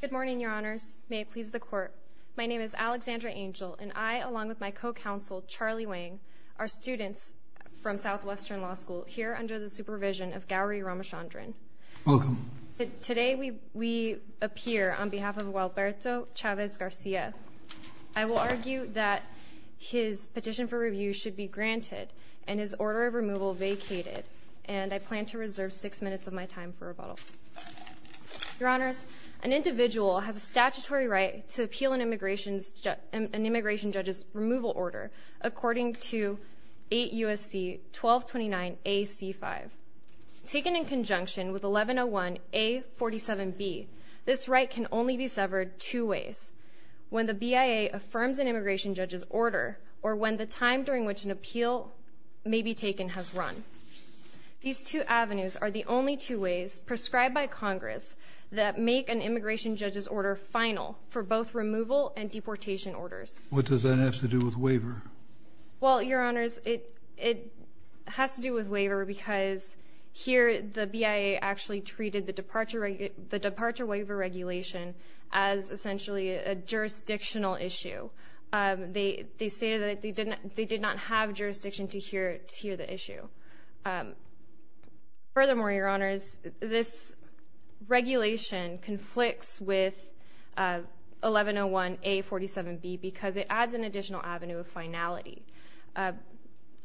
Good morning, Your Honors. May it please the Court. My name is Alexandra Angel and I, along with my co-counsel, Charlie Wang, are students from Southwestern Law School here under the supervision of Gowri Ramachandran. Welcome. Today we appear on behalf of Gualberto Chavez-Garcia. I will argue that his petition for review should be granted and his order of removal is vacated, and I plan to reserve six minutes of my time for rebuttal. Your Honors, an individual has a statutory right to appeal an immigration judge's removal order according to 8 U.S.C. 1229 A.C. 5. Taken in conjunction with 1101 A.47B, this right can only be severed two ways, when the BIA affirms an immigration judge's order or when the time during which an appeal may be taken has run. These two avenues are the only two ways prescribed by Congress that make an immigration judge's order final for both removal and deportation orders. What does that have to do with waiver? Well, Your Honors, it has to do with waiver because here the BIA actually treated the departure waiver regulation as essentially a jurisdictional issue. They stated that they did not have jurisdiction to hear the issue. Furthermore, Your Honors, this regulation conflicts with 1101 A.47B because it adds an additional avenue of finality.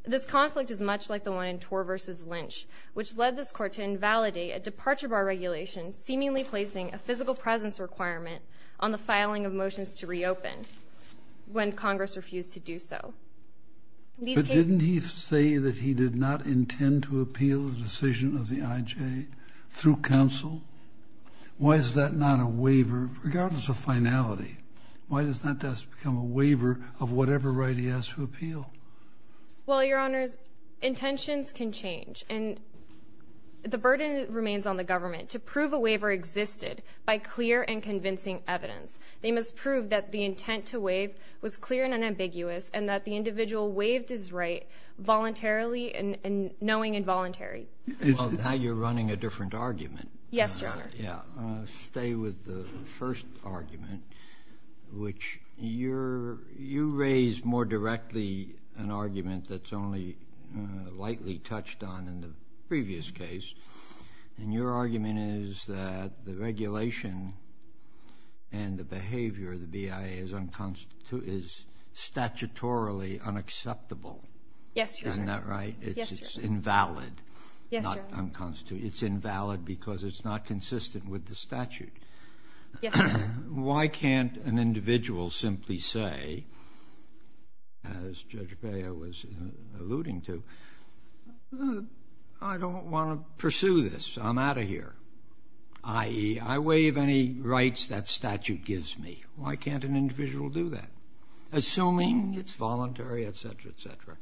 This conflict is much like the one in Tor v. Lynch, which led this Court to invalidate a departure bar regulation seemingly placing a physical presence requirement on the filing of motions to reopen when Congress refused to do so. But didn't he say that he did not intend to appeal the decision of the IJ through counsel? Why is that not a waiver regardless of finality? Why does that become a waiver of whatever right he has to appeal? Well, Your Honors, intentions can change and the burden remains on the government to prove a waiver existed by clear and convincing evidence. They must prove that the intent to waive was clear and unambiguous and that the individual waived his right voluntarily and knowing involuntary. Well, now you're running a different argument. Stay with the first argument, which you raised more directly an argument that's only lightly touched on in the previous case. And your argument is that the regulation and the behavior of the BIA is statutorily unacceptable. Isn't that right? It's invalid, not unconstitutional. It's invalid because it's not consistent with the statute. Why can't an individual simply say, as Judge Bea was alluding to, I don't want to pursue this, I'm out of here, i.e., I waive any rights that statute gives me. Why can't an individual do that? Assuming it's voluntary, etc., etc.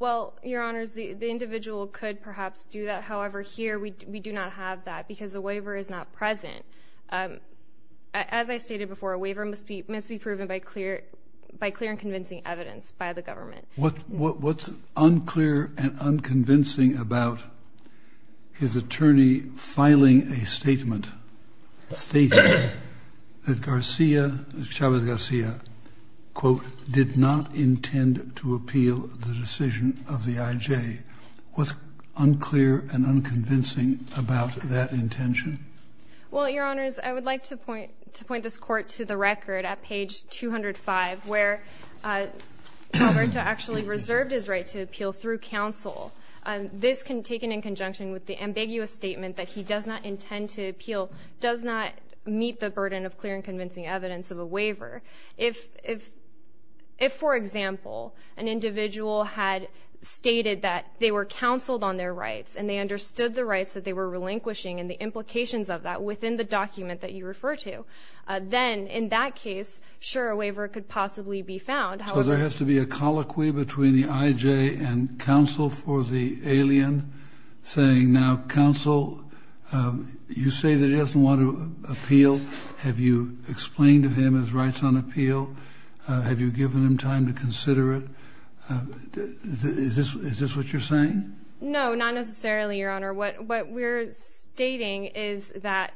Well, Your Honors, the individual could perhaps do that. However, here we do not have that because the waiver is not present. As I stated before, a waiver must be proven by clear and convincing evidence by the government. What's unclear and unconvincing about his attorney filing a statement stating that Garcia, Chavez Garcia, quote, did not intend to appeal the decision of the IJ? What's unclear and unconvincing about that intention? Well, Your Honors, I would like to point this Court to the record at page 205, where Alberto actually reserved his right to appeal through counsel. This, taken in conjunction with the ambiguous statement that he does not intend to appeal, does not meet the burden of clear and convincing evidence of a waiver. If, for example, an individual had stated that they were counseled on their rights and they understood the rights that they were relinquishing and the implications of that within the document that you refer to, then in that case, sure, a waiver could possibly be found. However So there has to be a colloquy between the IJ and counsel for the alien saying, now, counsel, you say that he doesn't want to appeal. Have you explained to him his rights on appeal? Have you given him time to consider it? Is this what you're saying? No, not necessarily, Your Honor. What we're stating is that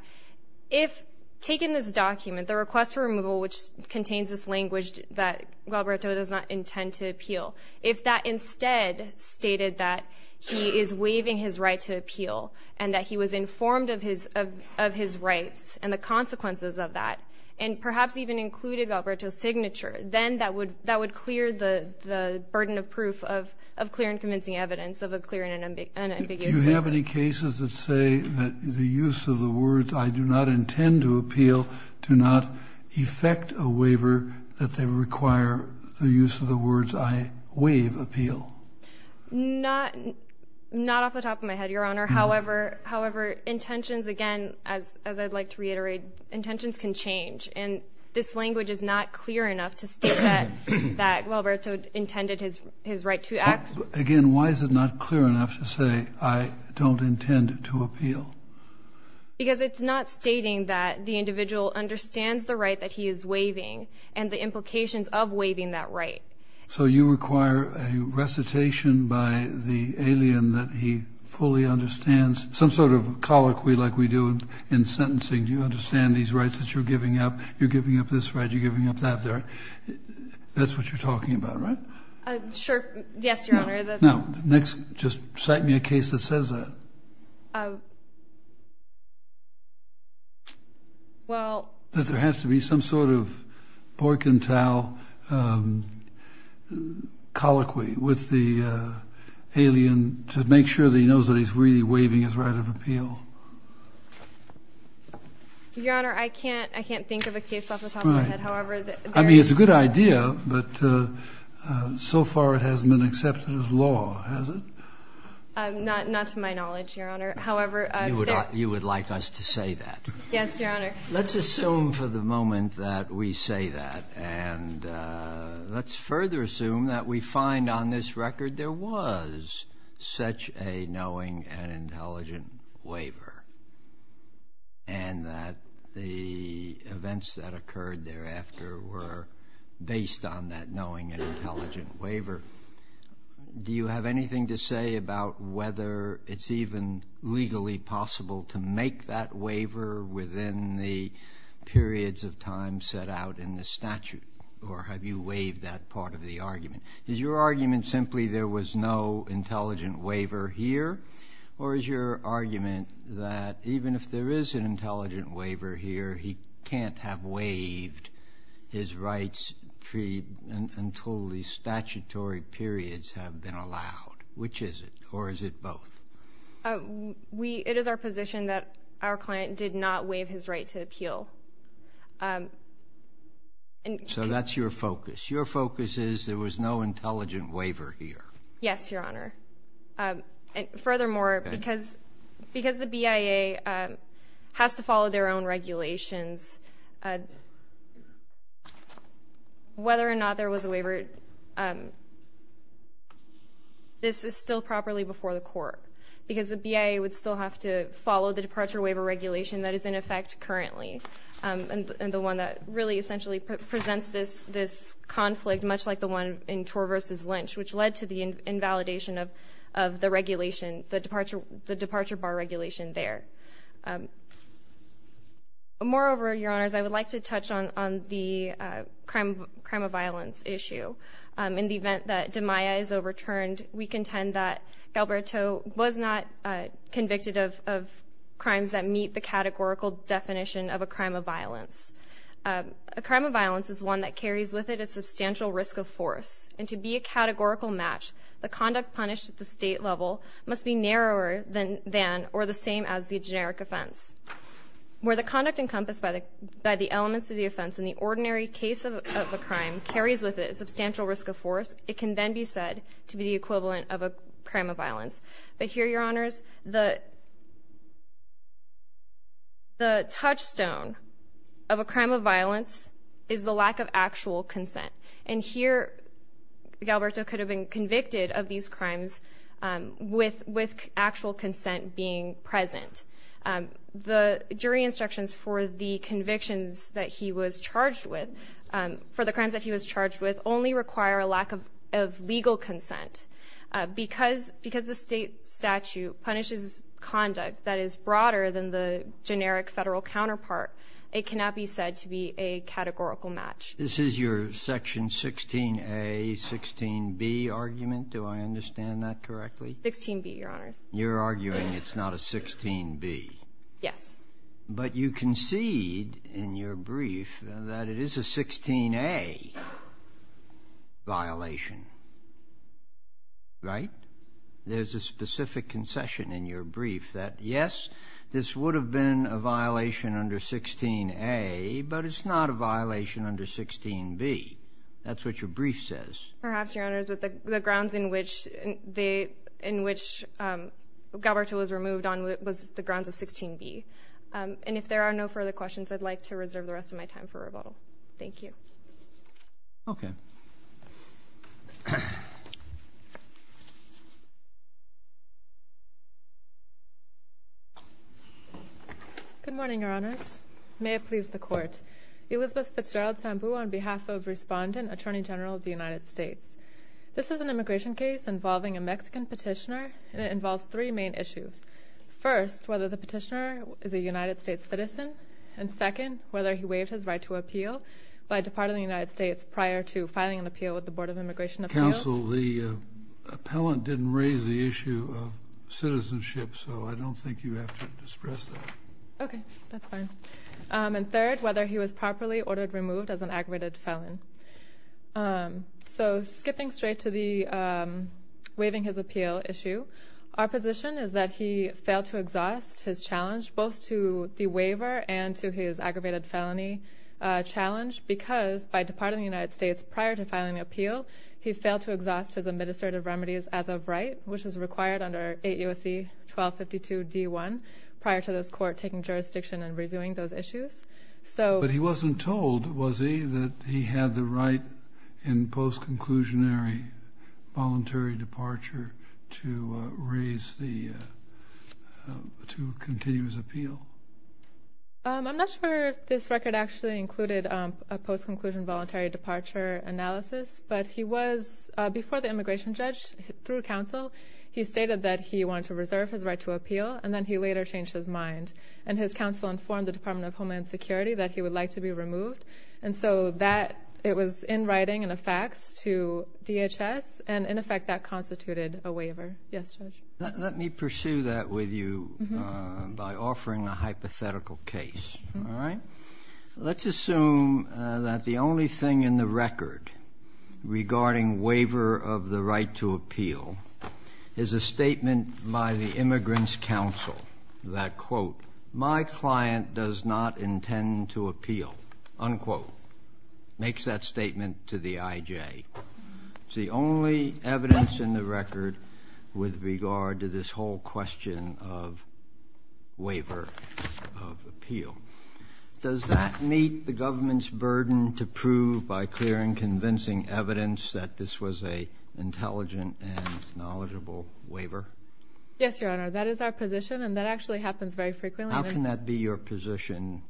if, taken this document, the request for removal, which contains this language that Alberto does not intend to appeal, if that instead stated that he is waiving his right to appeal and that he was informed of his rights and the consequences of that, and perhaps even included Alberto's signature, then that would clear the burden of proof of clear and convincing evidence of a clear and unambiguous waiver. Do you have any cases that say that the use of the words, I do not intend to appeal, do not effect a waiver, that they require the use of the words, I waive appeal? Not off the top of my head, Your Honor. However, intentions, again, as I'd like to reiterate, intentions can change. And this language is not clear enough to state that Alberto intended his right to act. Again, why is it not clear enough to say, I don't intend to appeal? Because it's not stating that the individual understands the right that he is waiving and the implications of waiving that right. So you require a recitation by the alien that he fully understands. Some sort of colloquy like we do in sentencing. Do you understand these rights that you're giving up? You're giving up this right, you're giving up that right. That's what you're talking about, right? Sure. Yes, Your Honor. Now, next, just cite me a case that says that. Well... That there has to be some sort of ork and towel colloquy with the alien to make sure that he knows that he's really waiving his right of appeal. Your Honor, I can't think of a case off the top of my head. However, there is... Right. I mean, it's a good idea, but so far it hasn't been accepted as law, has it? Not to my knowledge, Your Honor. However... You would like us to say that? Yes, Your Honor. Let's assume for the moment that we say that. And let's further assume that we find on this case that he's actually knowing an intelligent waiver. And that the events that occurred thereafter were based on that knowing an intelligent waiver. Do you have anything to say about whether it's even legally possible to make that waiver within the periods of time set out in the statute? Or have you waived that part of the argument? Is your argument simply there was no intelligent waiver here? Or is your argument that even if there is an intelligent waiver here, he can't have waived his rights until the statutory periods have been allowed? Which is it? Or is it both? It is our position that our client did not waive his right to appeal. So that's your focus. Your focus is there was no intelligent waiver here. Yes, Your Honor. Furthermore, because the BIA has to follow their own regulations, whether or not there was a waiver, this is still properly before the court. Because the BIA would still have to follow the departure waiver regulation that is in effect currently. And the one that really essentially presents this conflict, much like the one in Torr v. Lynch, which led to the invalidation of the regulation, the departure bar regulation there. Moreover, Your Honors, I would like to touch on the crime of violence issue. In the event that DiMaia is overturned, we contend that Galberto was not convicted of crimes that meet the categorical definition of a crime of violence. A crime of violence is one that carries with it a substantial risk of force. And to be a categorical match, the conduct punished at the state level must be narrower than or the same as the generic offense. Where the conduct encompassed by the elements of the offense in the ordinary case of a crime carries with it a substantial risk of force, it can then be said to be the equivalent of a crime of violence. But here, Your Honors, the touchstone of a crime of violence is the lack of actual consent. And here, Galberto could have been convicted of these crimes with actual consent being present. The jury instructions for the convictions that he was charged with only require a lack of legal consent. Because the state statute punishes conduct that is broader than the generic Federal counterpart, it cannot be said to be a categorical match. This is your section 16a, 16b argument. Do I understand that correctly? 16b, Your Honors. You're arguing it's not a 16b. Yes. But you concede in your brief that it is a 16a violation, right? There's a specific concession in your brief that, yes, this would have been a violation under 16a, but it's not a violation under 16b. That's what your brief says. Perhaps, Your Honors, but the grounds in which Galberto was removed on was the grounds of 16b. And if there are no further questions, I'd like to reserve the rest of my time for rebuttal. Thank you. Good morning, Your Honors. May it please the Court. Elizabeth Fitzgerald Sambu on behalf of Respondent, Attorney General of the United States. This is an immigration case involving a Mexican petitioner, and it involves three main issues. First, whether the petitioner is a United States citizen. And second, whether he waived his right to appeal by departing the United States prior to filing an appeal with the Board of Immigration Appellants. Counsel, the appellant didn't raise the issue of citizenship, so I don't think you have to disperse that. Okay. That's fine. And third, whether he was properly ordered removed as an aggravated felon. So, skipping straight to the waiving his appeal issue, our position is that he failed to exhaust his challenge, both to the waiver and to his aggravated felony challenge, because by departing the United States prior to filing the appeal, he failed to exhaust his administrative remedies as of right, which is required under 8 U.S.C. 1252 D.1, prior to this Court taking jurisdiction and reviewing those issues. But he wasn't told, was he, that he had the right in post-conclusionary voluntary departure to raise the, to continue his appeal? I'm not sure if this record actually included a post-conclusion voluntary departure analysis, but he was, before the immigration judge, through counsel, he stated that he wanted to reserve his right to appeal, and then he later changed his mind. And his counsel informed the Department of Homeland Security that he would like to be removed. And so that, it was in writing and a fax to DHS, and in effect that constituted a waiver. Yes, Judge. Let me pursue that with you by offering a hypothetical case. All right? Let's assume that the only thing in the record regarding waiver of the right to appeal is a statement by the immigrants' counsel that, quote, my client does not intend to appeal, unquote, makes that statement to the I.J. It's the only evidence in the record with regard to this whole question of waiver of appeal. Does that meet the government's burden to prove by clear and convincing evidence that this was a intelligent and knowledgeable waiver? Yes, Your Honor. That is our position, and that actually happens very frequently. How can that be your position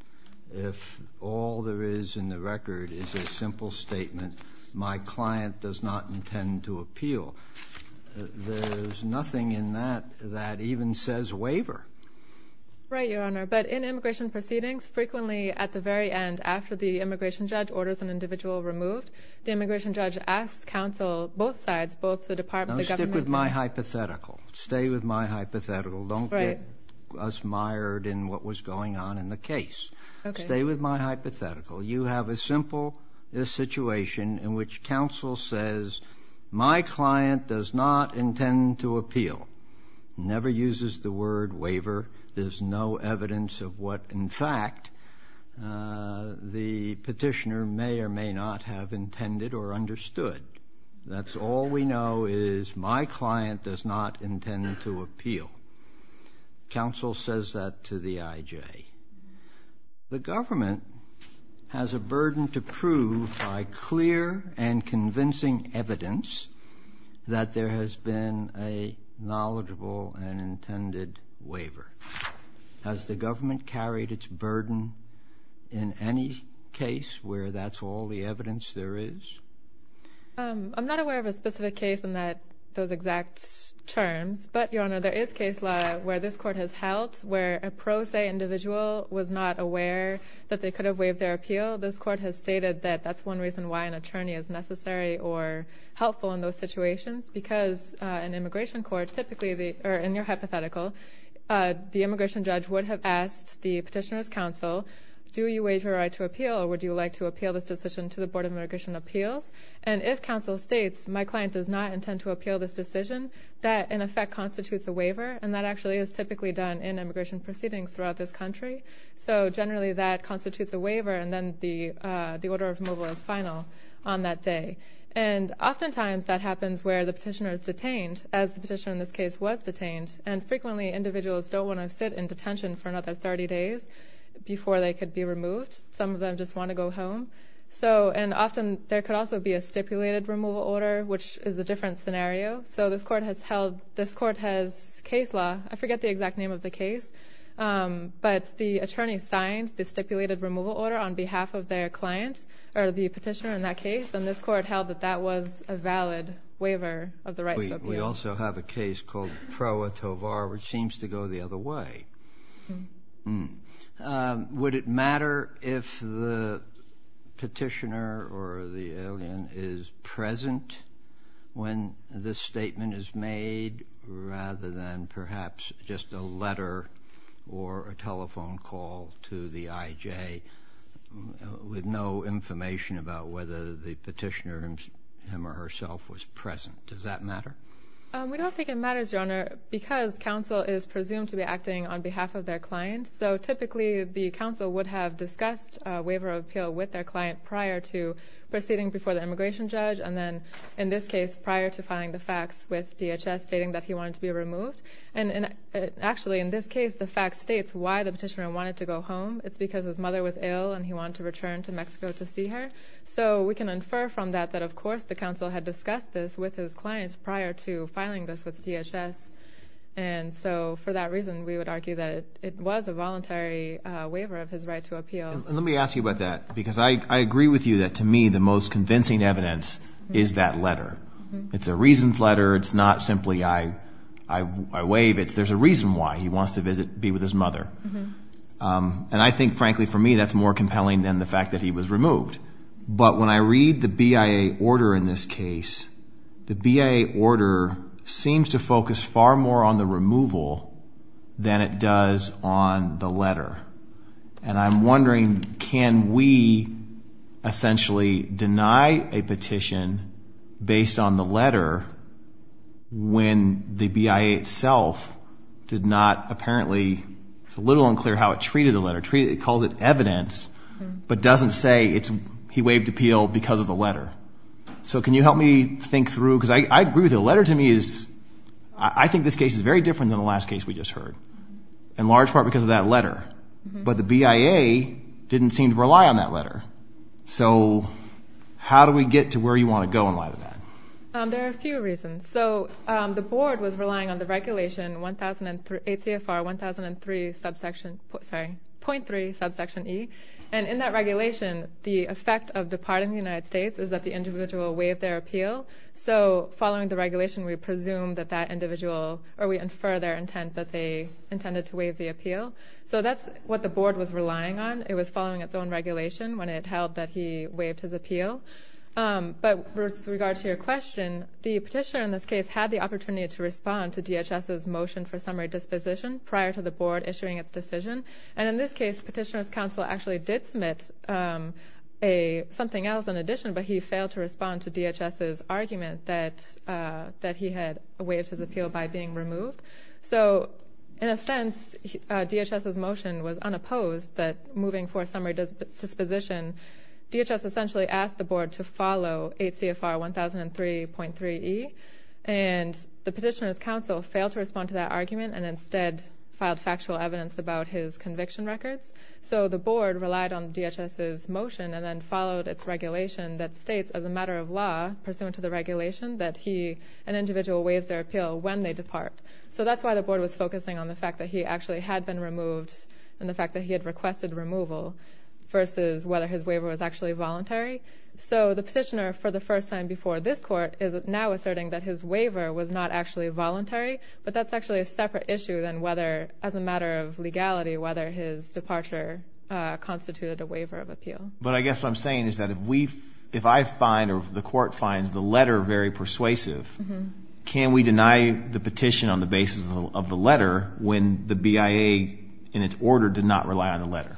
if all there is in the record is a simple statement, my client does not intend to appeal? There's nothing in that that even says waiver. Right, Your Honor. But in immigration proceedings, frequently at the very end, after the immigration judge orders an individual removed, the immigration judge has a hypothetical. Stay with my hypothetical. Don't get us mired in what was going on in the case. Okay. Stay with my hypothetical. You have a simple situation in which counsel says my client does not intend to appeal, never uses the word waiver. There's no evidence of what, in fact, the petitioner may or may not have intended or understood. That's all we know is my client does not intend to appeal. Counsel says that to the IJ. The government has a burden to prove by clear and convincing evidence that there has been a knowledgeable and intended waiver. Has the government carried its burden in any case where that's all the case in those exact terms? But, Your Honor, there is case law where this court has held where a pro se individual was not aware that they could have waived their appeal. This court has stated that that's one reason why an attorney is necessary or helpful in those situations because an immigration court typically, or in your hypothetical, the immigration judge would have asked the petitioner's counsel, do you waive your right to appeal or would you like to appeal this decision to the Board of Immigration Appeals? And if counsel states my client does not intend to appeal this decision, that in effect constitutes a waiver and that actually is typically done in immigration proceedings throughout this country. So generally that constitutes a waiver and then the order of removal is final on that day. And oftentimes that happens where the petitioner is detained as the petitioner in this case was detained and frequently individuals don't want to sit in detention for another 30 days before they could be removed. Some of them just want to go home. And often there could also be a stipulated removal order which is a different scenario. So this court has held, this court has case law, I forget the exact name of the case, but the attorney signed the stipulated removal order on behalf of their client or the petitioner in that case and this court held that that was a valid waiver of the right to appeal. We also have a case called Proa Tovar which when this statement is made rather than perhaps just a letter or a telephone call to the IJ with no information about whether the petitioner, him or herself, was present. Does that matter? We don't think it matters, Your Honor, because counsel is presumed to be acting on behalf of their client. So typically the counsel would have discussed a waiver of appeal with their client prior to proceeding before the immigration judge and then in this case prior to filing the fax with DHS stating that he wanted to be removed. And actually in this case the fax states why the petitioner wanted to go home. It's because his mother was ill and he wanted to return to Mexico to see her. So we can infer from that that of course the counsel had discussed this with his client prior to filing this with DHS. And so for that reason we would argue that it was a voluntary waiver of his right to appeal. Let me ask you about that because I agree with you that to me the most convincing evidence is that letter. It's a reasoned letter. It's not simply I waive it. There's a reason why he wants to be with his mother. And I think frankly for me that's more compelling than the fact that he was removed. But when I read the BIA order in this case, the BIA order seems to focus far more on the removal than it does on the letter. And I'm wondering can we essentially deny a petition based on the letter when the BIA itself did not apparently, it's a little unclear how it treated the letter. It called it evidence but doesn't say he waived appeal because of the letter. So can you help me think through because I agree with you. The letter to me is, I think this case is very different than the last case we just heard in large part because of that letter. But the BIA didn't seem to rely on that letter. So how do we get to where you want to go in light of that? There are a few reasons. So the board was relying on the regulation 1003 ACFR 1003 subsection sorry 0.3 subsection E. And in that regulation the effect of departing the United States is that the individual waived their appeal. So following the regulation we presume that that individual or we infer their intent that they intended to waive the appeal. So that's what the board was relying on. It was following its own regulation when it held that he waived his appeal. But with regard to your question, the petitioner in this case had the opportunity to respond to DHS's motion for summary disposition prior to the board issuing its decision. And in this case petitioner's counsel actually did submit something else in addition but he failed to respond to DHS's argument that he had waived his appeal by being removed. So in a sense DHS's motion was unopposed that moving for summary disposition DHS essentially asked the board to follow ACFR 1003.3 E. And the petitioner's counsel failed to respond to that argument and instead filed factual evidence about his conviction records. So the board relied on DHS's motion and then followed its regulation that states as a matter of law pursuant to the regulation that he an individual waives their appeal when they depart. So that's why the board was focusing on the fact that he actually had been removed and the fact that he had requested removal versus whether his waiver was actually voluntary. So the petitioner for the first time before this court is now asserting that his waiver was not actually voluntary but that's actually a separate issue than whether as a matter of legality whether his departure constituted a waiver of appeal. But I guess what I'm saying is that if we if I find or the court finds the letter very persuasive can we deny the petition on the basis of the letter when the BIA in its order did not rely on the letter?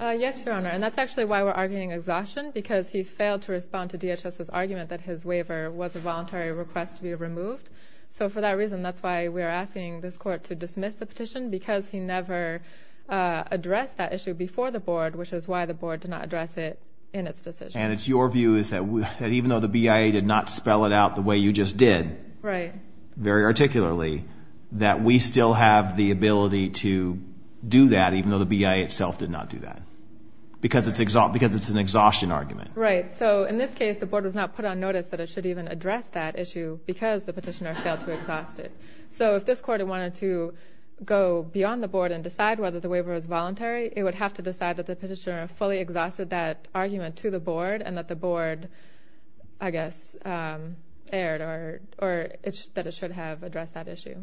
Yes your honor and that's actually why we're arguing exhaustion because he failed to respond to DHS's argument that his waiver was a voluntary request to be removed. So for that reason that's why we're asking this court to dismiss the petition because he never addressed that issue before the board which is why the board did not address it in its decision. And it's your view is that even though the BIA did not spell it out the way you just did very articulately that we still have the ability to do that even though the BIA itself did not do that because it's an exhaustion argument. Right so in this case the board was not put on notice that it should even address that issue because the petitioner failed to exhaust it. So if this court wanted to go beyond the board and decide whether the waiver was voluntary it would have to decide that the petitioner fully exhausted that argument to the board and that the board I guess erred or that it should have addressed that issue.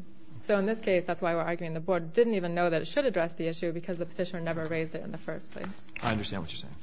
So in this case that's why we're arguing the board didn't even know that it should address the issue because the petitioner never raised it in the first place. I understand what you're saying.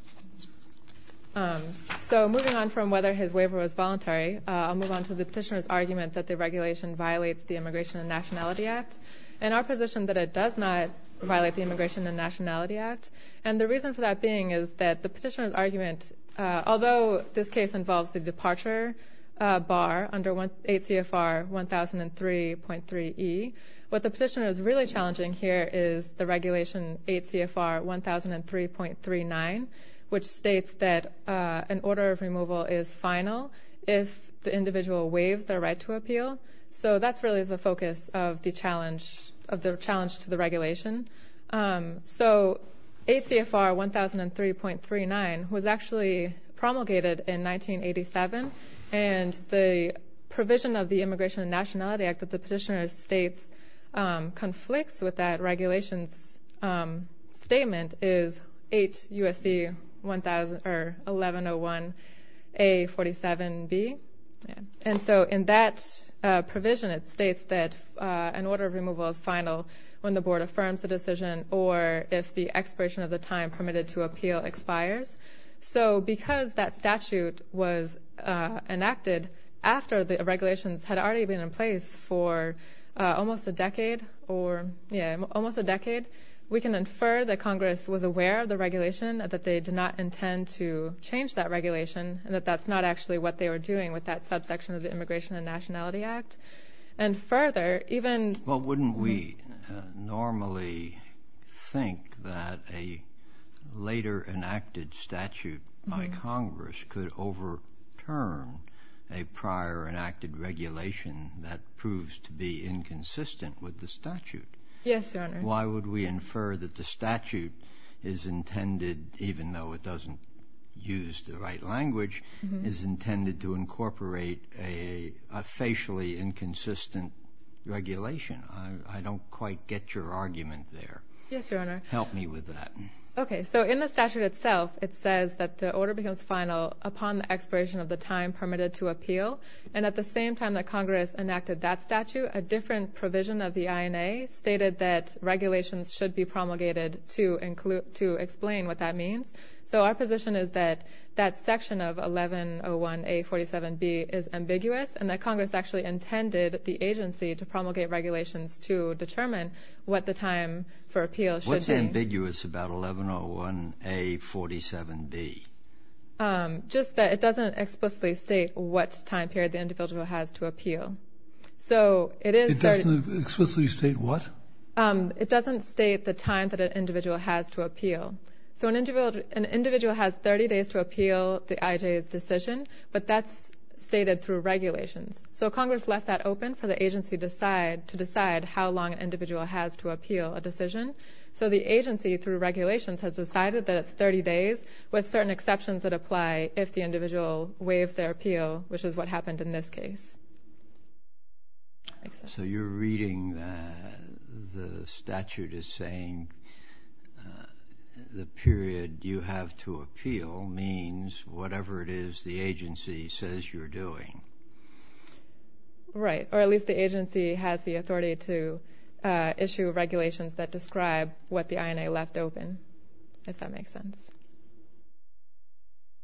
So moving on from whether his waiver was voluntary I'll move on to the petitioner's argument that the regulation violates the Immigration and Nationality Act and our position that it does not violate the Immigration and Nationality Act and the reason for that being is that the petitioner's argument although this case involves the departure bar under 8 CFR 1003.3E what the petitioner is really challenging here is the regulation 8 CFR 1003.39 which states that an order of removal is final if the individual waives their right to appeal. So that's really the focus of the challenge to the regulation. So 8 CFR 1003.39 was actually promulgated in 1987 and the provision of the Immigration and Nationality Act that the petitioner states conflicts with that regulation's statement is 8 USC 1101A47B and so in that provision it states that an order of removal is final when the board affirms the decision or if the expiration of the time permitted to appeal expires. So because that statute was enacted after the regulations had already been in place for almost a decade or yeah almost a decade we can infer that Congress was aware of the regulation that they did not intend to change that regulation and that that's not actually what they were doing with that subsection of the Immigration and Nationality Act and further even. Well wouldn't we normally think that a later enacted statute by Congress could overturn a prior enacted regulation that proves to be inconsistent with the statute? Yes, Your Honor. Why would we infer that the statute is intended even though it doesn't use the right language is intended to incorporate a facially inconsistent regulation? I don't quite get your argument there. Yes, Your Honor. Help me with that. Okay, so in the statute itself it says that the order becomes final upon the expiration of the time permitted to appeal and at the same time that Congress enacted that statute a different provision of the INA stated that regulations should be promulgated to explain what that means. So our position is that that section of 1101A47B is ambiguous and that Congress actually intended the agency to promulgate regulations to determine what the time for appeal should be. What's ambiguous about 1101A47B? Just that it doesn't explicitly state what time period the individual has to appeal. So it is... It doesn't explicitly state what? It doesn't state the time that an individual has to appeal. So an individual has 30 days to appeal the IJA's decision, but that's stated through regulations. So Congress left that open for the agency to decide how long an individual has to appeal a decision. So the agency through regulations has decided that it's 30 days with certain exceptions that apply if the individual waives their appeal, which is what happened in this case. So you're reading that the statute is saying the period you have to appeal means whatever it is the agency says you're doing. Right, or at least the agency has the authority to issue regulations that describe what the INA left open, if that makes sense.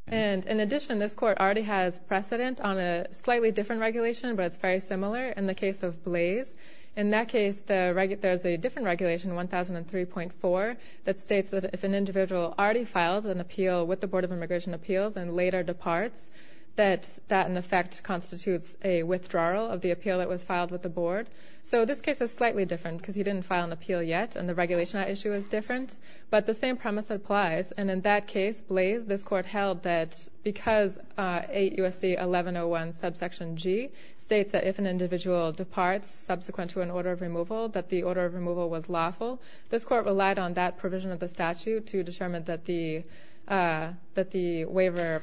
And in addition, this court already has precedent on a slightly different regulation, but it's very similar in the case of Blaze. In that case, there's a different regulation, 1003.4, that states that if an individual already files an appeal with the Board of Immigration Appeals and later departs, that that in effect constitutes a withdrawal of the appeal that was filed with the board. So this case is slightly different because he didn't file an appeal yet, and the regulation at issue is different, but the same premise applies. And in that case, Blaze, this court held that because 8 U.S.C. 1101 subsection G states that if an individual departs subsequent to an order of removal, that the order of removal was lawful, this court relied on that provision of the statute to determine that the waiver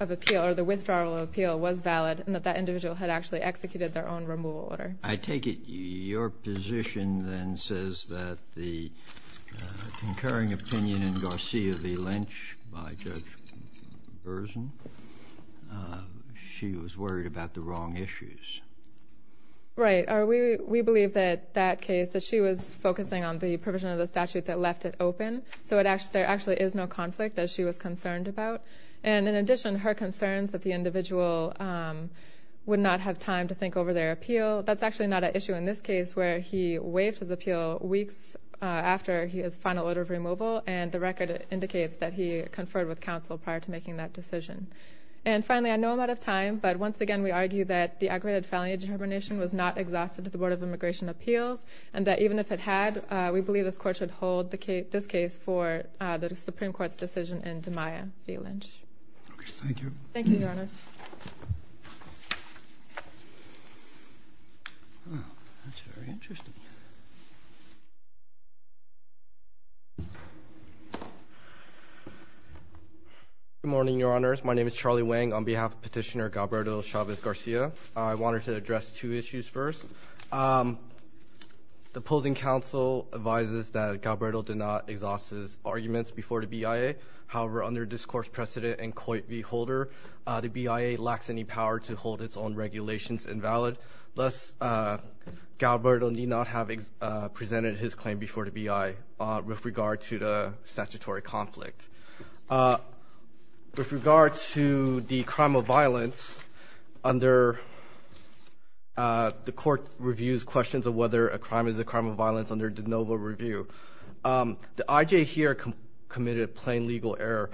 of appeal or the withdrawal of appeal was valid and that that individual had actually executed their own removal order. I take it your position then says that the concurring opinion in Garcia v. Lynch by Judge Burson, she was worried about the wrong issues. Right. We believe that that case, that she was focusing on the provision of the statute that left it open, so there actually is no conflict that she was concerned about. And in addition, her concerns that the individual would not have time to think over their appeal, that's actually not an issue in this case where he waived his appeal weeks after his final order of removal, and the record indicates that he conferred with counsel prior to making that decision. And finally, I know I'm out of time, but once again we argue that the aggravated felony determination was not exhausted at the Board of Immigration Appeals, and that even if it had, we believe this court should hold this case for the Supreme Court's decision in DeMaia v. Lynch. Okay, thank you. Thank you, Your Honors. Good morning, Your Honors. My name is Charlie Wang on behalf of Petitioner Galberto Chavez Garcia. I wanted to address two issues first. The opposing counsel advises that Galberto did not exhaust his arguments before the BIA. However, under discourse precedent and coit de holder, the BIA lacks any power to hold its own regulations invalid, lest Galberto need not have presented his claim before the BIA with regard to the statutory conflict. With regard to the crime of violence, under the court reviews questions of whether a crime is a crime of violence under de novo review, the IJ here committed a plain legal error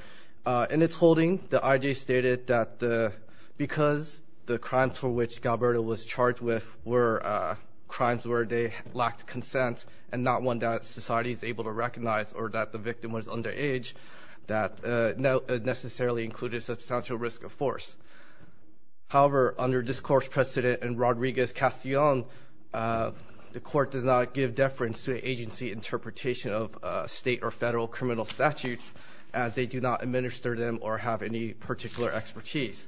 in its holding. The IJ stated that because the crimes for which Galberto was charged with were crimes where they lacked consent and not one that society is able to recognize or that the victim was underage, that necessarily included substantial risk of force. However, under discourse precedent and Rodriguez-Castillon, the court does not give deference to agency interpretation of state or federal criminal statutes as they do not administer them or have any particular expertise.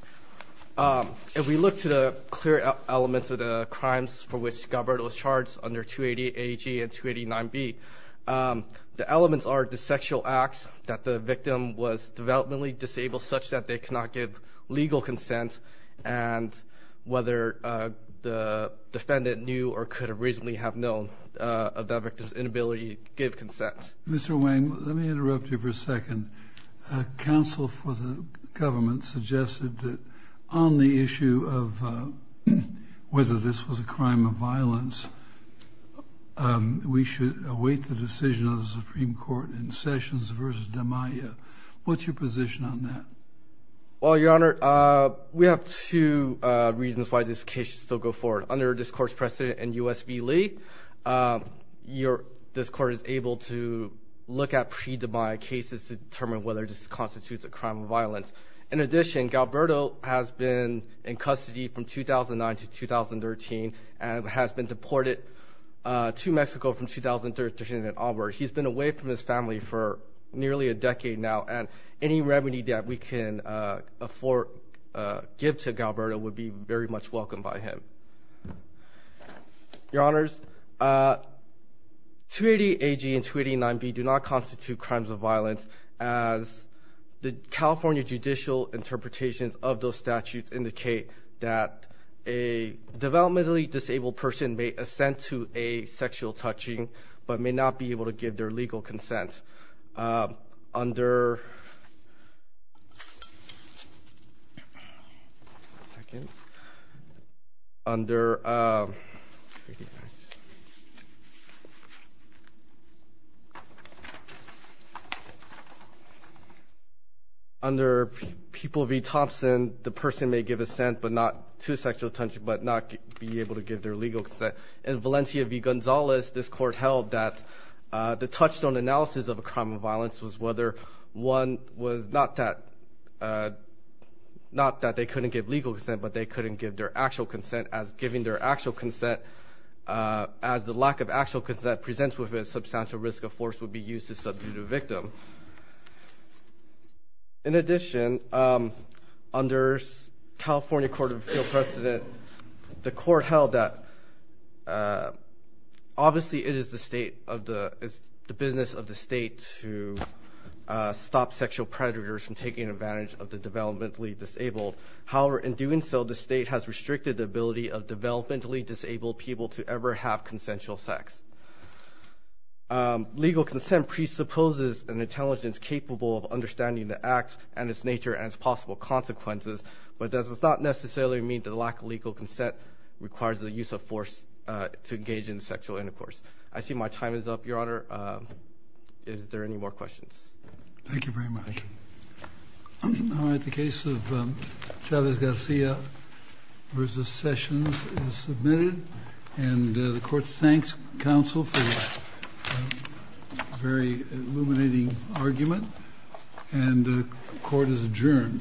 If we look to the clear elements of the crimes for which Galberto was charged under 288AG and 289B, the elements are the sexual acts that the victim was developmentally disabled such that they cannot give legal consent and whether the defendant knew or could have reasonably have known of that victim's inability to give consent. Mr. Wang, let me interrupt you for a second. Council for the government suggested that on the issue of whether this was a crime of violence, we should await the decision of the Supreme Court in Sessions v. DeMaio. What's your position on that? Well, Your Honor, we have two reasons why this case should still go forward. Under discourse precedent and U.S. v. Lee, this court is able to look at pre-DeMaio cases to determine whether this constitutes a crime of violence. In addition, Galberto has been in custody from 2009 to 2013 and has been deported to Mexico from 2013 and onward. He's been away from his family for nearly a decade now and any remedy that we can afford, give to Galberto would be very much welcomed by him. Your Honors, 288AG and 289B do not constitute crimes of violence as the California judicial interpretations of those statutes indicate that a developmentally disabled person may assent to a sexual touching but may not be able to give their legal consent. Under, one second, under People v. Thompson, the person may give assent but not to a sexual touching but not be able to give their legal consent. In Valencia v. Gonzalez, this court held that the touchstone analysis of a crime of violence was whether one was not that they couldn't give legal consent but they couldn't give their actual consent as giving their actual consent as the lack of actual consent presents with a substantial risk of force would be used to subdue the victim. In addition, under California Court of Appeal precedent, the court held that obviously it is the business of the state to stop sexual predators from taking advantage of the developmentally disabled. However, in doing so, the state has restricted the ability of developmentally disabled people to ever have consensual sex. Legal consent presupposes an intelligence capable of understanding the acts and its nature and its possible consequences but that does not necessarily mean that a lack of legal consent requires the use of force to engage in sexual intercourse. I see my time is up, Your Honor. Is there any more questions? Thank you very much. All right, the case of Chavez-Garcia v. Sessions is submitted and the court thanks counsel for a very illuminating argument and the court is adjourned.